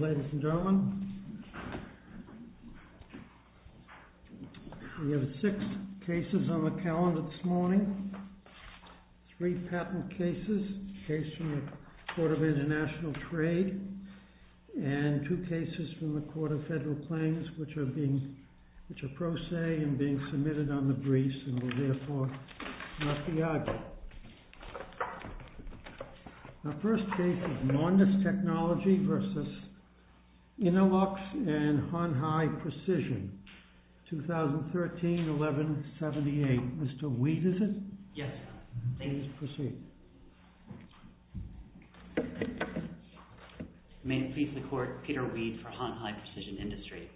Ladies and gentlemen, we have six cases on the calendar this morning. Three patent cases, a case from the Court of International Trade, and two cases from the Court of Federal Claims, which are pro se and being submitted on the briefs, and will therefore not be argued. The first case is MONDIS TECHNOLOGY v. INNOLUX & HONHAI PRECISION 2013-11-78. Mr. Weed, is it? Yes, Your Honor. Please proceed. May it please the Court, Peter Weed for Honhai Precision Industry.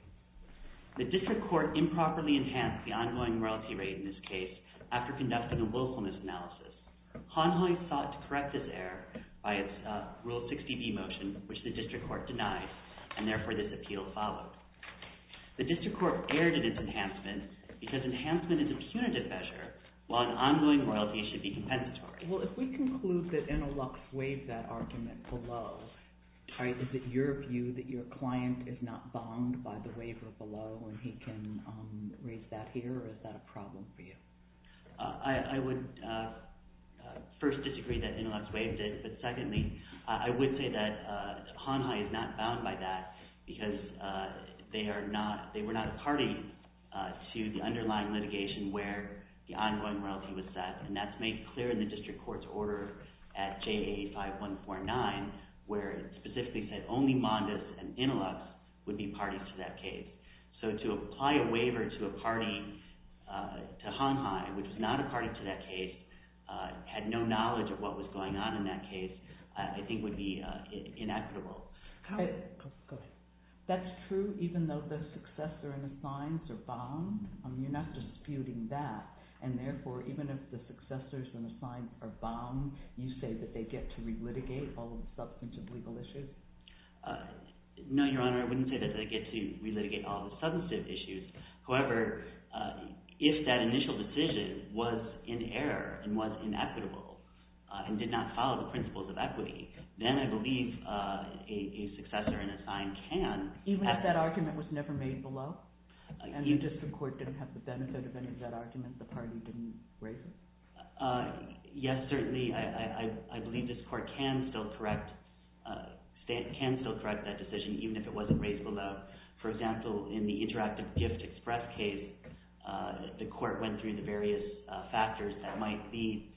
The District Court improperly enhanced the ongoing royalty rate in this case after conducting a willfulness analysis. Honhai sought to correct this error by its Rule 60b motion, which the District Court denied, and therefore this appeal followed. The District Court erred in its enhancement because enhancement is a punitive measure while an ongoing royalty should be compensatory. Well, if we conclude that INNOLUX waived that argument below, is it your view that your client is not bombed by the waiver below and he can raise that here, or is that a problem for you? I would first disagree that INNOLUX waived it, but secondly I would say that Honhai is not bound by that because they were not a party to the underlying litigation where the ongoing royalty was set, and that's made clear in the District Court's order at JA 5149 where it specifically said only MONDIS and INNOLUX would be parties to that case. So to apply a waiver to Honhai, which was not a party to that case, had no knowledge of what was going on in that case, I think would be inequitable. That's true even though the successor and the signs are bound? You're not disputing that, and therefore even if the successors and the signs are bound, you say that they get to re-litigate all of the substantive legal issues? No, Your Honor, I wouldn't say that they get to re-litigate all of the substantive issues. However, if that initial decision was in error and was inequitable and did not follow the principles of equity, then I believe a successor and a sign can... Even if that argument was never made below? And the District Court didn't have the benefit of any of that argument, the party didn't raise it? Yes, certainly, I believe this Court can still correct that decision even if it wasn't raised below. For example, in the Interactive Gift Express case, the Court went through the various factors that might lead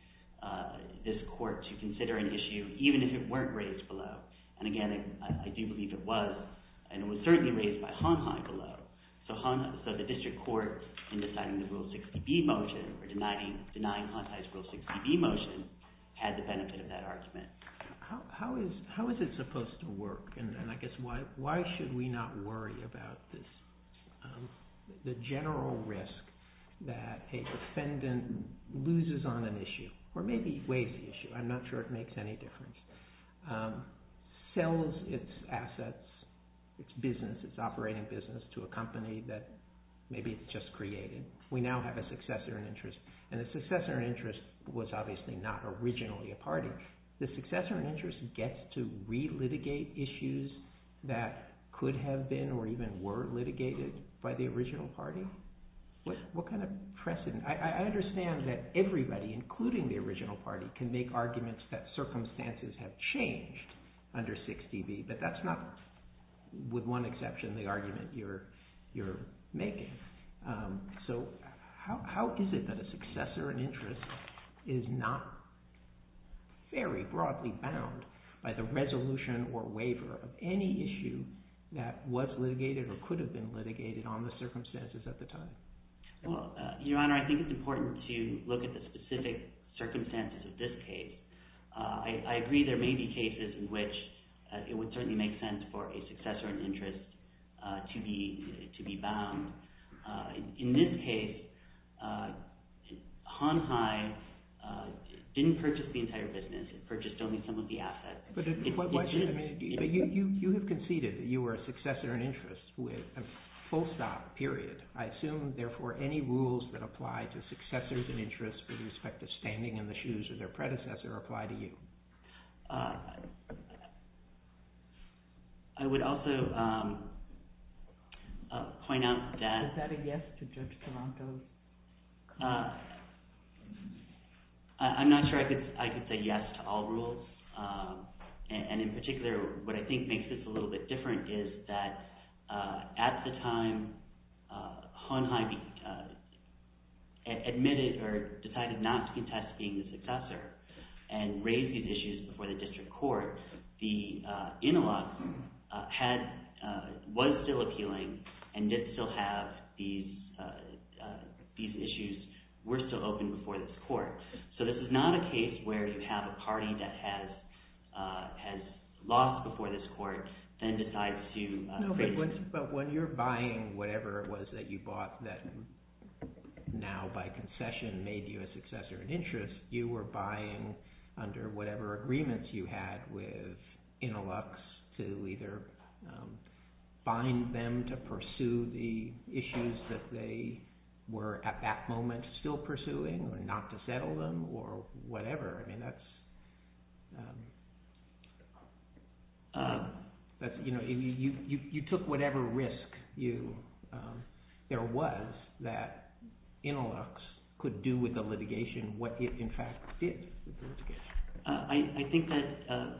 this Court to consider an issue even if it weren't raised below. And again, I do believe it was, and it was certainly raised by Honhai below. So the District Court, in deciding the Rule 60B motion, or denying Honhai's Rule 60B motion, had the benefit of that argument. How is it supposed to work, and I guess why should we not worry about this? The general risk that a defendant loses on an issue, or maybe waives the issue, I'm not sure it makes any difference, sells its assets, its business, its operating business, to a company that maybe it's just created. We now have a successor in interest. And a successor in interest was obviously not originally a party. The successor in interest gets to re-litigate issues that could have been or even were litigated by the original party? What kind of precedent... I understand that everybody, including the original party, can make arguments that circumstances have changed under 60B, but that's not, with one exception, the argument you're making. So how is it that a successor in interest is not very broadly bound by the resolution or waiver of any issue that was litigated or could have been litigated on the circumstances at the time? Your Honor, I think it's important to look at the specific circumstances of this case. I agree there may be cases in which it would certainly make sense for a successor in interest to be bound. In this case, Hon Hai didn't purchase the entire business. It purchased only some of the assets. But you have conceded that you were a successor in interest with a full-stop, period. I assume, therefore, any rules that apply to successors in interest with respect to standing in the shoes of their predecessor apply to you. I would also point out that... Is that a yes to Judge Delanco's claim? I'm not sure I could say yes to all rules. In particular, what I think makes this a little bit different is that at the time Hon Hai admitted or decided not to contest being the successor and raised these issues before the district court, the interlock was still appealing and did still have these issues, were still open before this court. So this is not a case where you have a party that has lost before this court and decides to raise... But when you're buying whatever it was that you bought that now by concession made you a successor in interest, you were buying under whatever agreements you had with interlocks to either bind them to pursue the issues that they were at that moment still pursuing or not to settle them or whatever. You took whatever risk there was that interlocks could do with the litigation what it, in fact, did with the litigation. I think that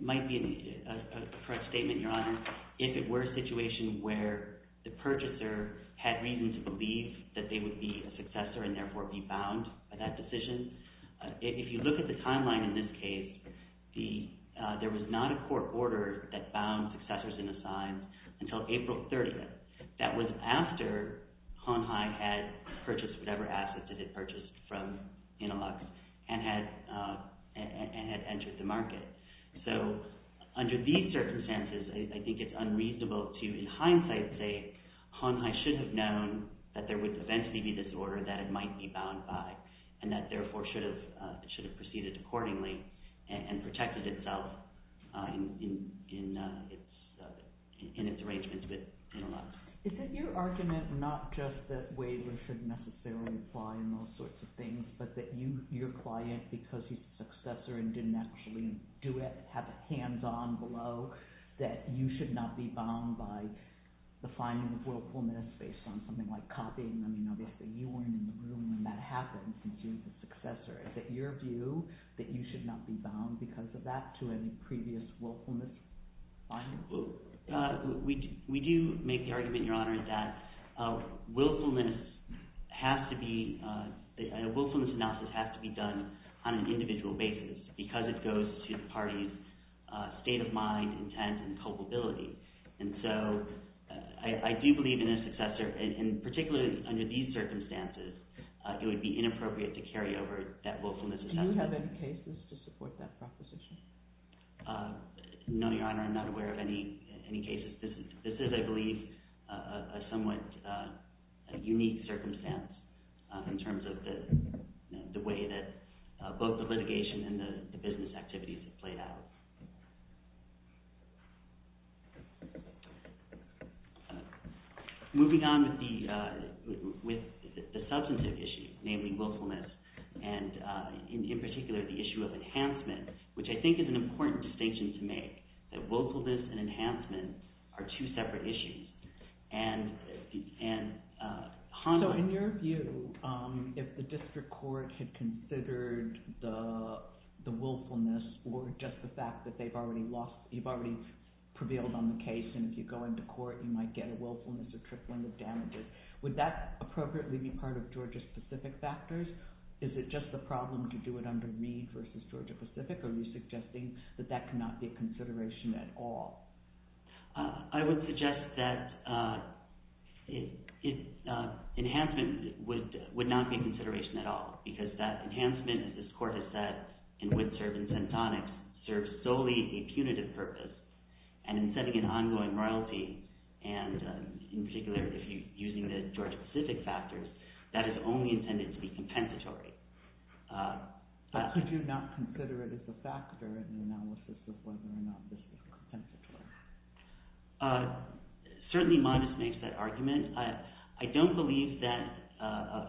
might be a correct statement, Your Honor. If it were a situation where the purchaser had reason to believe that they would be a successor and therefore be bound by that decision, if you look at the timeline in this case, there was not a court order that bound successors in assigns until April 30th. That was after Hon Hai had purchased whatever assets that it purchased from interlocks and had entered the market. So under these circumstances, I think it's unreasonable to, in hindsight, say Hon Hai should have known that there was a fancy disorder that it might be bound by and that therefore should have proceeded accordingly and protected itself in its arrangements with interlocks. Is it your argument not just that Waverly should necessarily apply in those sorts of things but that your client, because he's a successor and didn't actually do it, have a hands-on below that you should not be bound by the finding of willfulness based on something like copying them? Obviously, you weren't in the room when that happened since you were the successor. Is it your view that you should not be bound because of that to any previous willfulness finding? We do make the argument, Your Honor, that a willfulness analysis has to be done on an individual basis because it goes to the party's state of mind, intent, and culpability. And so I do believe in a successor, and particularly under these circumstances, it would be inappropriate to carry over that willfulness assessment. Do you have any cases to support that proposition? No, Your Honor, I'm not aware of any cases. This is, I believe, a somewhat unique circumstance in terms of the way that both the litigation and the business activities have played out. Moving on with the substantive issue, namely willfulness, and in particular the issue of enhancement, which I think is an important distinction to make, that willfulness and enhancement are two separate issues. So in your view, if the district court had considered the willfulness or just the fact that you've already prevailed on the case and if you go into court you might get a willfulness or tripling of damages, would that appropriately be part of Georgia-specific factors? Is it just the problem to do it under Meade versus Georgia-specific, or are you suggesting that that cannot be a consideration at all? I would suggest that enhancement would not be a consideration at all, because that enhancement, as this Court has said, and would serve in tentonics, serves solely a punitive purpose. And in setting an ongoing royalty, and in particular using the Georgia-specific factors, that is only intended to be compensatory. But could you not consider it as a factor in the analysis of whether or not this was compensatory? Certainly Mondes makes that argument. I don't believe that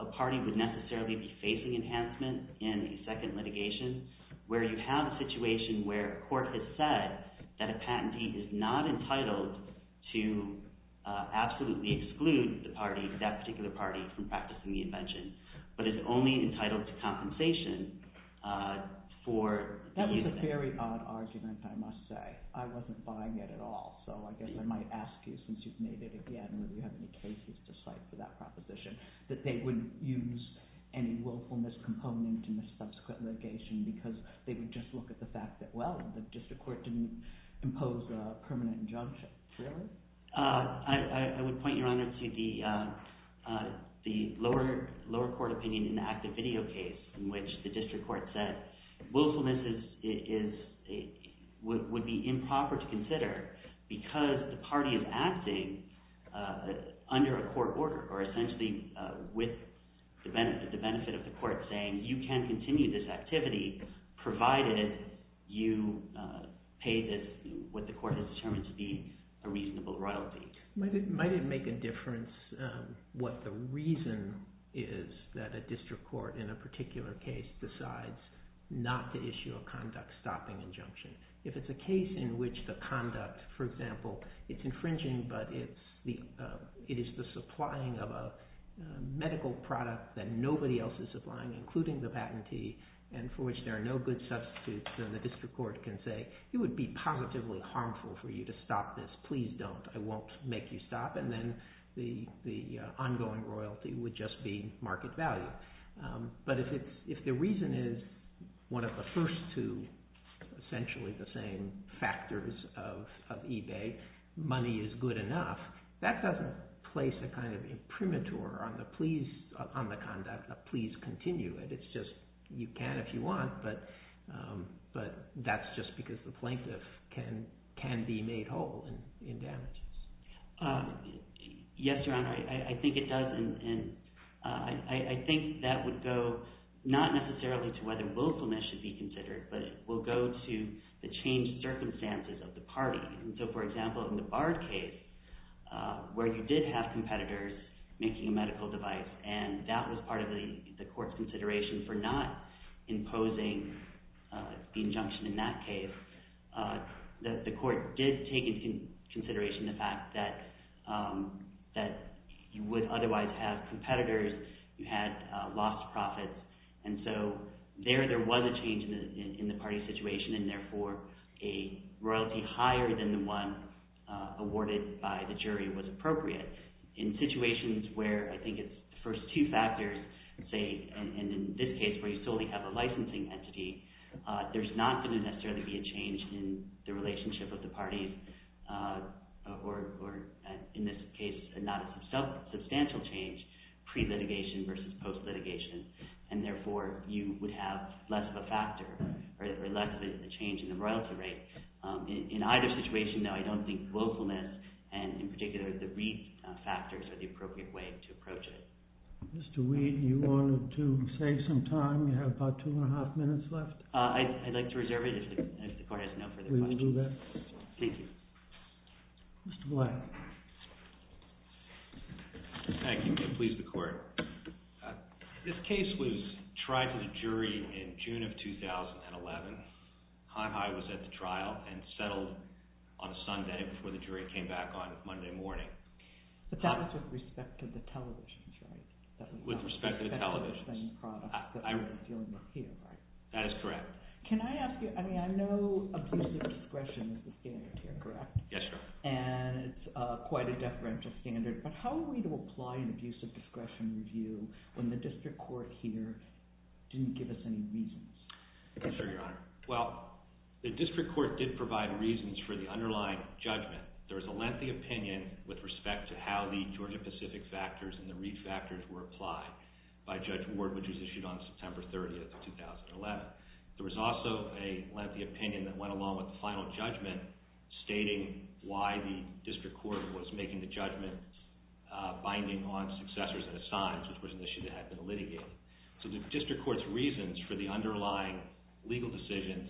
a party would necessarily be facing enhancement in a second litigation where you have a situation where a court has said that a patentee is not entitled to absolutely exclude the party, that particular party, from practicing the invention, but is only entitled to compensation for the use of it. That's a very odd argument, I must say. I wasn't buying it at all, so I guess I might ask you, since you've made it again, whether you have any cases to cite for that proposition, that they wouldn't use any willfulness component in the subsequent litigation because they would just look at the fact that, well, the district court didn't impose a permanent injunction, really? I would point, Your Honor, to the lower court opinion in the active video case in which the district court said willfulness would be improper to consider because the party is acting under a court order, or essentially with the benefit of the court saying you can continue this activity provided you pay what the court has determined to be a reasonable amount. Might it make a difference what the reason is that a district court in a particular case decides not to issue a conduct-stopping injunction? If it's a case in which the conduct, for example, it's infringing, but it is the supplying of a medical product that nobody else is supplying, including the patentee, and for which there are no good substitutes, then the district court can say, it would be positively harmful for you to stop this. Please don't. I won't make you stop. And then the ongoing royalty would just be market value. But if the reason is one of the first two, essentially the same factors of eBay, money is good enough, that doesn't place a kind of imprimatur on the conduct of please continue it. It's just you can if you want, but that's just because the plaintiff can be made whole in damages. Yes, Your Honor, I think it does, and I think that would go not necessarily to whether willfulness should be considered, but it will go to the changed circumstances of the party. So, for example, in the Bard case, where you did have competitors making a medical device, and that was part of the court's consideration for not imposing the injunction in that case, the court did take into consideration the fact that you would otherwise have competitors who had lost profits. And so there, there was a change in the party situation, and therefore a royalty higher than the one awarded by the jury was appropriate. In situations where I think it's the first two factors, say, and in this case where you solely have a licensing entity, there's not going to necessarily be a change in the relationship of the parties, or in this case, not a substantial change pre-litigation versus post-litigation, and therefore you would have less of a factor, or less of a change in the royalty rate. In either situation, though, I don't think willfulness, and in particular the Reed factors, are the appropriate way to approach it. Mr. Reed, you wanted to save some time? You have about two and a half minutes left. I'd like to reserve it if the court has no further questions. We will do that. Thank you. Mr. Black. Thank you. Please, the court. This case was tried to the jury in June of 2011. High High was at the trial and settled on a Sunday before the jury came back on Monday morning. But that was with respect to the televisions, right? With respect to the televisions. That was the same product that I was dealing with here, right? That is correct. Can I ask you, I mean, I know abusive discretion is the standard here, correct? Yes, sir. And it's quite a deferential standard. But how were we to apply an abusive discretion review when the district court here didn't give us any reasons? Go ahead, sir. Well, the district court did provide reasons for the underlying judgment. There was a lengthy opinion with respect to how the Georgia Pacific factors and the Reed factors were applied by Judge Ward, which was issued on September 30th, 2011. There was also a lengthy opinion that went along with the final judgment stating why the district court was making the judgment binding on successors and assigns, which was an issue that had been litigated. So the district court's reasons for the underlying legal decisions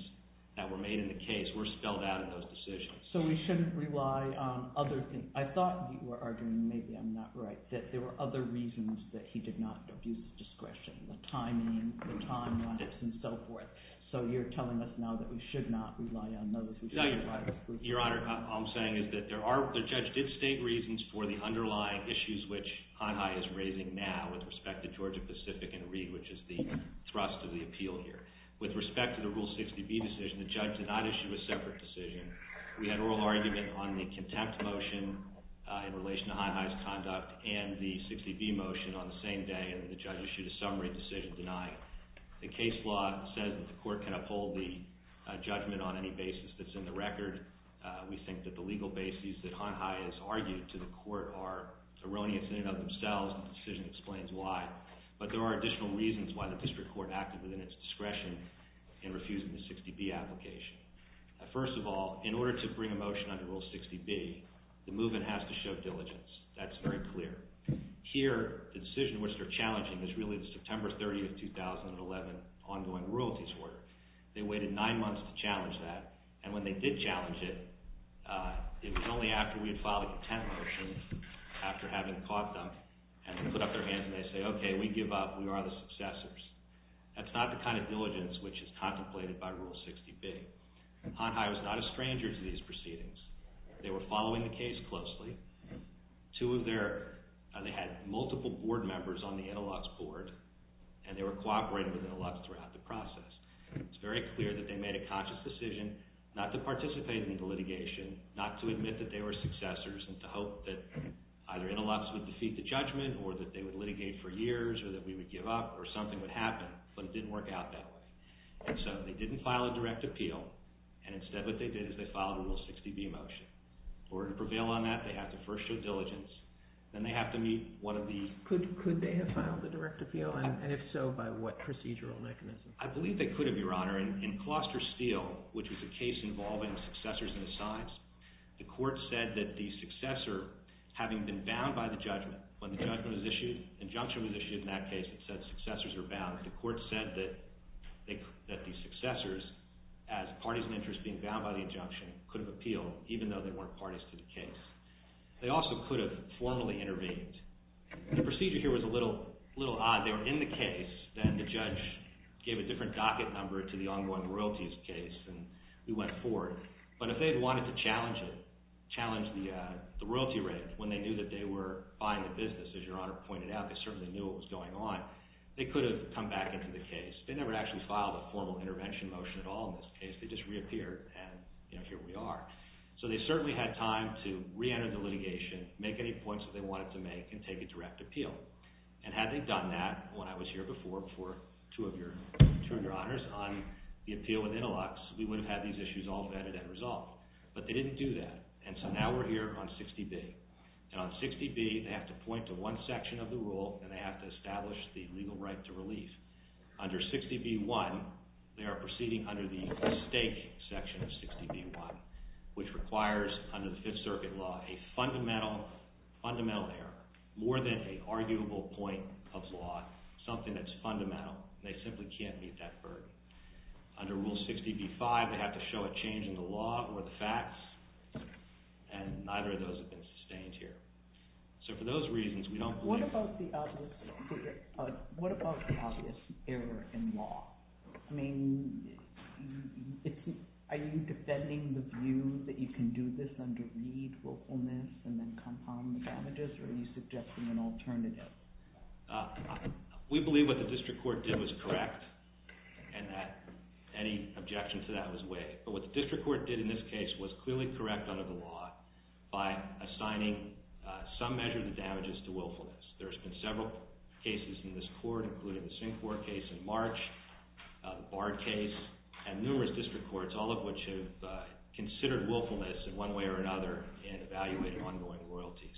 that were made in the case were spelled out in those decisions. So we shouldn't rely on other things. I thought you were arguing, maybe I'm not right, that there were other reasons that he did not abuse discretion. The timing, the timelines, and so forth. So you're telling us now that we should not rely on those? No, Your Honor, all I'm saying is that the judge did state reasons for the underlying issues which High High is raising now with respect to Georgia Pacific and Reed, which is the thrust of the appeal here. With respect to the Rule 60B decision, the judge did not issue a separate decision. We had an oral argument on the contempt motion in relation to High High's conduct and the 60B motion on the same day and the judge issued a summary decision denying it. The case law says that the court can uphold the judgment on any basis that's in the record. We think that the legal basis that High High has argued to the court are erroneous in and of themselves and the decision explains why. But there are additional reasons why the district court acted within its discretion in refusing the 60B application. First of all, in order to bring a motion under Rule 60B, the movement has to show diligence. That's very clear. Here, the decision which they're challenging is really the September 30th, 2011 ongoing royalties order. They waited nine months to challenge that and when they did challenge it, it was only after we had filed a contempt motion, after having caught them, and they put up their hands and they say, okay, we give up, we are the successors. That's not the kind of diligence which is contemplated by Rule 60B. High High was not a stranger to these proceedings. They were following the case closely. Two of their – they had multiple board members on the Interlops board and they were cooperating with Interlops throughout the process. It's very clear that they made a conscious decision not to participate in the litigation, not to admit that they were successors, and to hope that either Interlops would defeat the judgment or that they would litigate for years or that we would give up or something would happen, but it didn't work out that way. And so they didn't file a direct appeal, and instead what they did is they filed a Rule 60B motion. In order to prevail on that, they have to first show diligence, then they have to meet one of the – Could they have filed a direct appeal, and if so, by what procedural mechanism? I believe they could, Your Honor. In Closter Steele, which was a case involving successors and assigns, the court said that the successor, having been bound by the judgment when the judgment was issued, injunction was issued in that case, it said successors are bound. The court said that the successors, as parties of interest being bound by the injunction, could have appealed even though they weren't parties to the case. They also could have formally intervened. The procedure here was a little odd. They were in the case, then the judge gave a different docket number to the ongoing royalties case, and we went forward. But if they had wanted to challenge it, challenge the royalty rate when they knew that they were buying the business, as Your Honor pointed out, they certainly knew what was going on. They could have come back into the case. They never actually filed a formal intervention motion at all in this case. They just reappeared, and here we are. So they certainly had time to reenter the litigation, make any points that they wanted to make, and take a direct appeal. And had they done that when I was here before, before two of Your Honors, on the appeal with Intelox, we would have had these issues all vetted and resolved. But they didn't do that, and so now we're here on 60B. And on 60B, they have to point to one section of the rule, and they have to establish the legal right to relief. Under 60B.1, they are proceeding under the stake section of 60B.1, which requires, under the Fifth Circuit law, a fundamental error, more than an arguable point of law, something that's fundamental. They simply can't meet that burden. Under Rule 60B.5, they have to show a change in the law or the facts, and neither of those have been sustained here. So for those reasons, we don't believe— What about the obvious error in law? I mean, are you defending the view that you can do this under weed, willfulness, and then compound the damages, or are you suggesting an alternative? We believe what the district court did was correct, and that any objection to that was waived. But what the district court did in this case was clearly correct under the law by assigning some measure of the damages to willfulness. There's been several cases in this court, including the Syncourt case in March, the Bard case, and numerous district courts, all of which have considered willfulness in one way or another in evaluating ongoing royalties.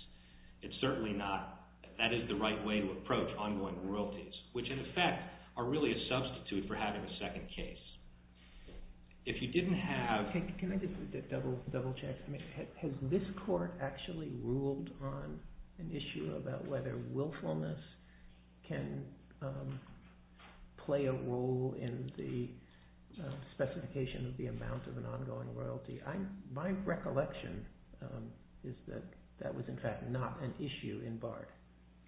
It's certainly not—that is the right way to approach ongoing royalties, which in effect are really a substitute for having a second case. If you didn't have— Can I just double-check? I mean, has this court actually ruled on an issue about whether willfulness can play a role in the specification of the amount of an ongoing royalty? My recollection is that that was in fact not an issue in Bard.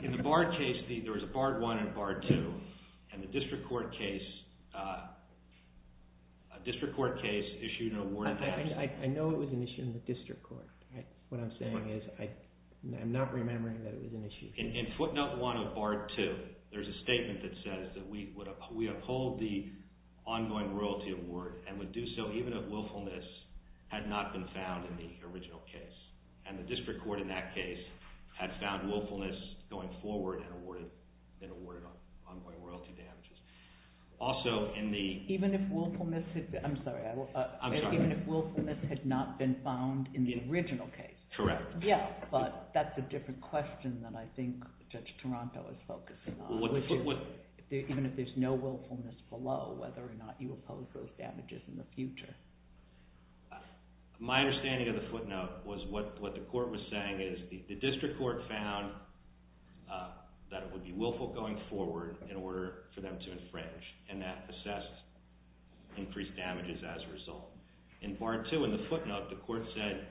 In the Bard case, there was a Bard I and a Bard II, and the district court case issued an award of that. I know it was an issue in the district court. What I'm saying is I'm not remembering that it was an issue. In footnote 1 of Bard II, there's a statement that says that we uphold the ongoing royalty award and would do so even if willfulness had not been found in the original case. And the district court in that case had found willfulness going forward and awarded ongoing royalty damages. Also, in the— Even if willfulness had—I'm sorry. I'm sorry. Even if willfulness had not been found in the original case. Correct. Yeah, but that's a different question than I think Judge Taranto is focusing on. Even if there's no willfulness below, whether or not you oppose those damages in the future. My understanding of the footnote was what the court was saying is the district court found that it would be willful going forward in order for them to infringe. And that assessed increased damages as a result. In Bard II, in the footnote, the court said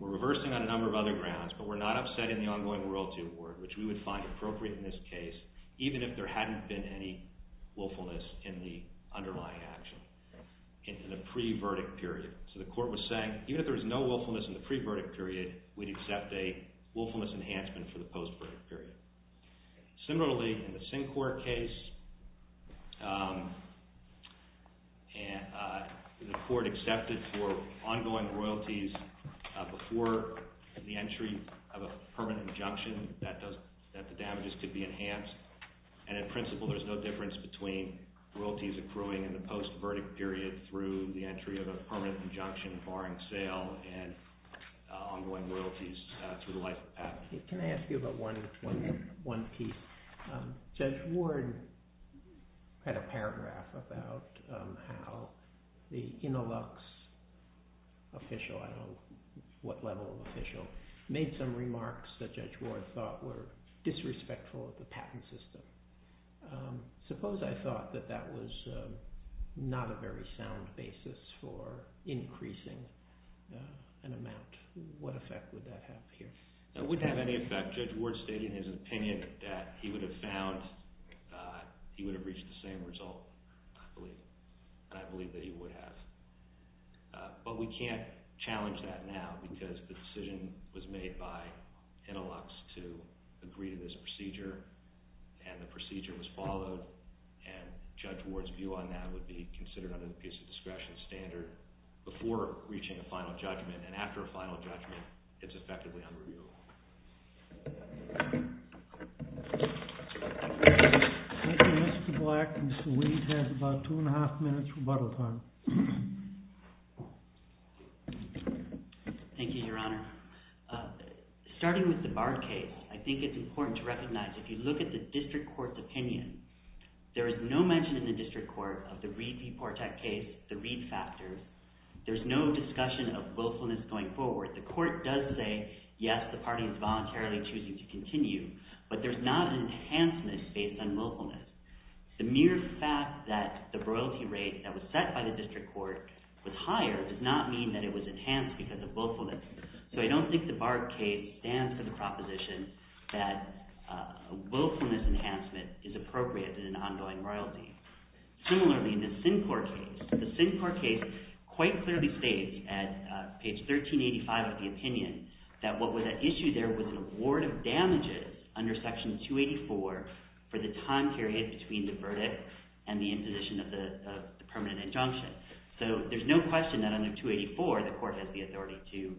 we're reversing on a number of other grounds, but we're not upsetting the ongoing royalty award, which we would find appropriate in this case, even if there hadn't been any willfulness in the underlying action, in the pre-verdict period. So the court was saying even if there was no willfulness in the pre-verdict period, we'd accept a willfulness enhancement for the post-verdict period. Similarly, in the Sinclair case, the court accepted for ongoing royalties before the entry of a permanent injunction that the damages could be enhanced. And in principle, there's no difference between royalties accruing in the post-verdict period through the entry of a permanent injunction barring sale and ongoing royalties through the life of patent. Can I ask you about one piece? Judge Ward had a paragraph about how the Inalux official, I don't know what level of official, made some remarks that Judge Ward thought were disrespectful of the patent system. Suppose I thought that that was not a very sound basis for increasing an amount. What effect would that have here? It wouldn't have any effect. Judge Ward stated in his opinion that he would have found – he would have reached the same result, I believe, and I believe that he would have. But we can't challenge that now because the decision was made by Inalux to agree to this procedure, and the procedure was followed. And Judge Ward's view on that would be considered under the peace of discretion standard before reaching a final judgment. And after a final judgment, it's effectively unreviewable. Thank you, Mr. Black. Mr. Weed has about two and a half minutes rebuttal time. Thank you, Your Honor. Your Honor, starting with the Bard case, I think it's important to recognize if you look at the district court's opinion, there is no mention in the district court of the Reed v. Portek case, the Reed factors. There's no discussion of willfulness going forward. The court does say, yes, the party is voluntarily choosing to continue, but there's not an enhancement based on willfulness. The mere fact that the royalty rate that was set by the district court was higher does not mean that it was enhanced because of willfulness. So I don't think the Bard case stands for the proposition that a willfulness enhancement is appropriate in an ongoing royalty. Similarly, in the Syncourt case, the Syncourt case quite clearly states at page 1385 of the opinion that what was at issue there was an award of damages under Section 284 for the time period between the verdict and the imposition of the permanent injunction. So there's no question that under 284, the court has the authority to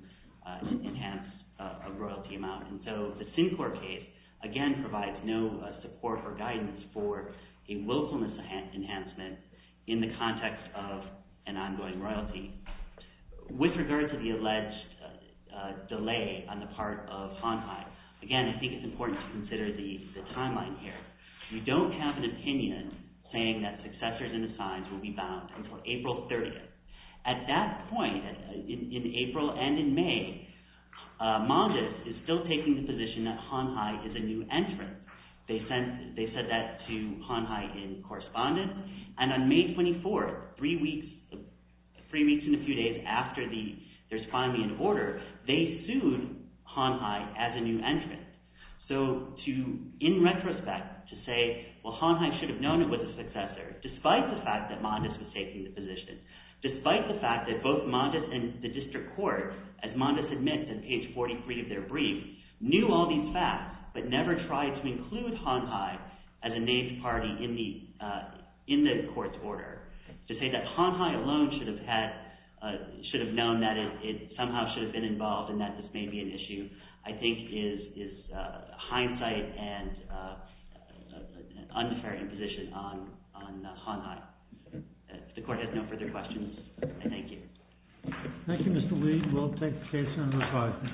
enhance a royalty amount. And so the Syncourt case, again, provides no support or guidance for a willfulness enhancement in the context of an ongoing royalty. With regard to the alleged delay on the part of Hon Hai, again, I think it's important to consider the timeline here. We don't have an opinion saying that successors and assigns will be bound until April 30th. At that point, in April and in May, Mondes is still taking the position that Hon Hai is a new entrant. They said that to Hon Hai in correspondence. And on May 24th, three weeks in a few days after there's finally an order, they sued Hon Hai as a new entrant. So in retrospect, to say, well, Hon Hai should have known it was a successor, despite the fact that Mondes was taking the position, despite the fact that both Mondes and the district court, as Mondes admits in page 43 of their brief, knew all these facts but never tried to include Hon Hai as a named party in the court's order. To say that Hon Hai alone should have known that it somehow should have been involved and that this may be an issue, I think is hindsight and an unfair imposition on Hon Hai. If the court has no further questions, I thank you. Thank you, Mr. Lee. We'll take the case under review. Thank you. Thank you.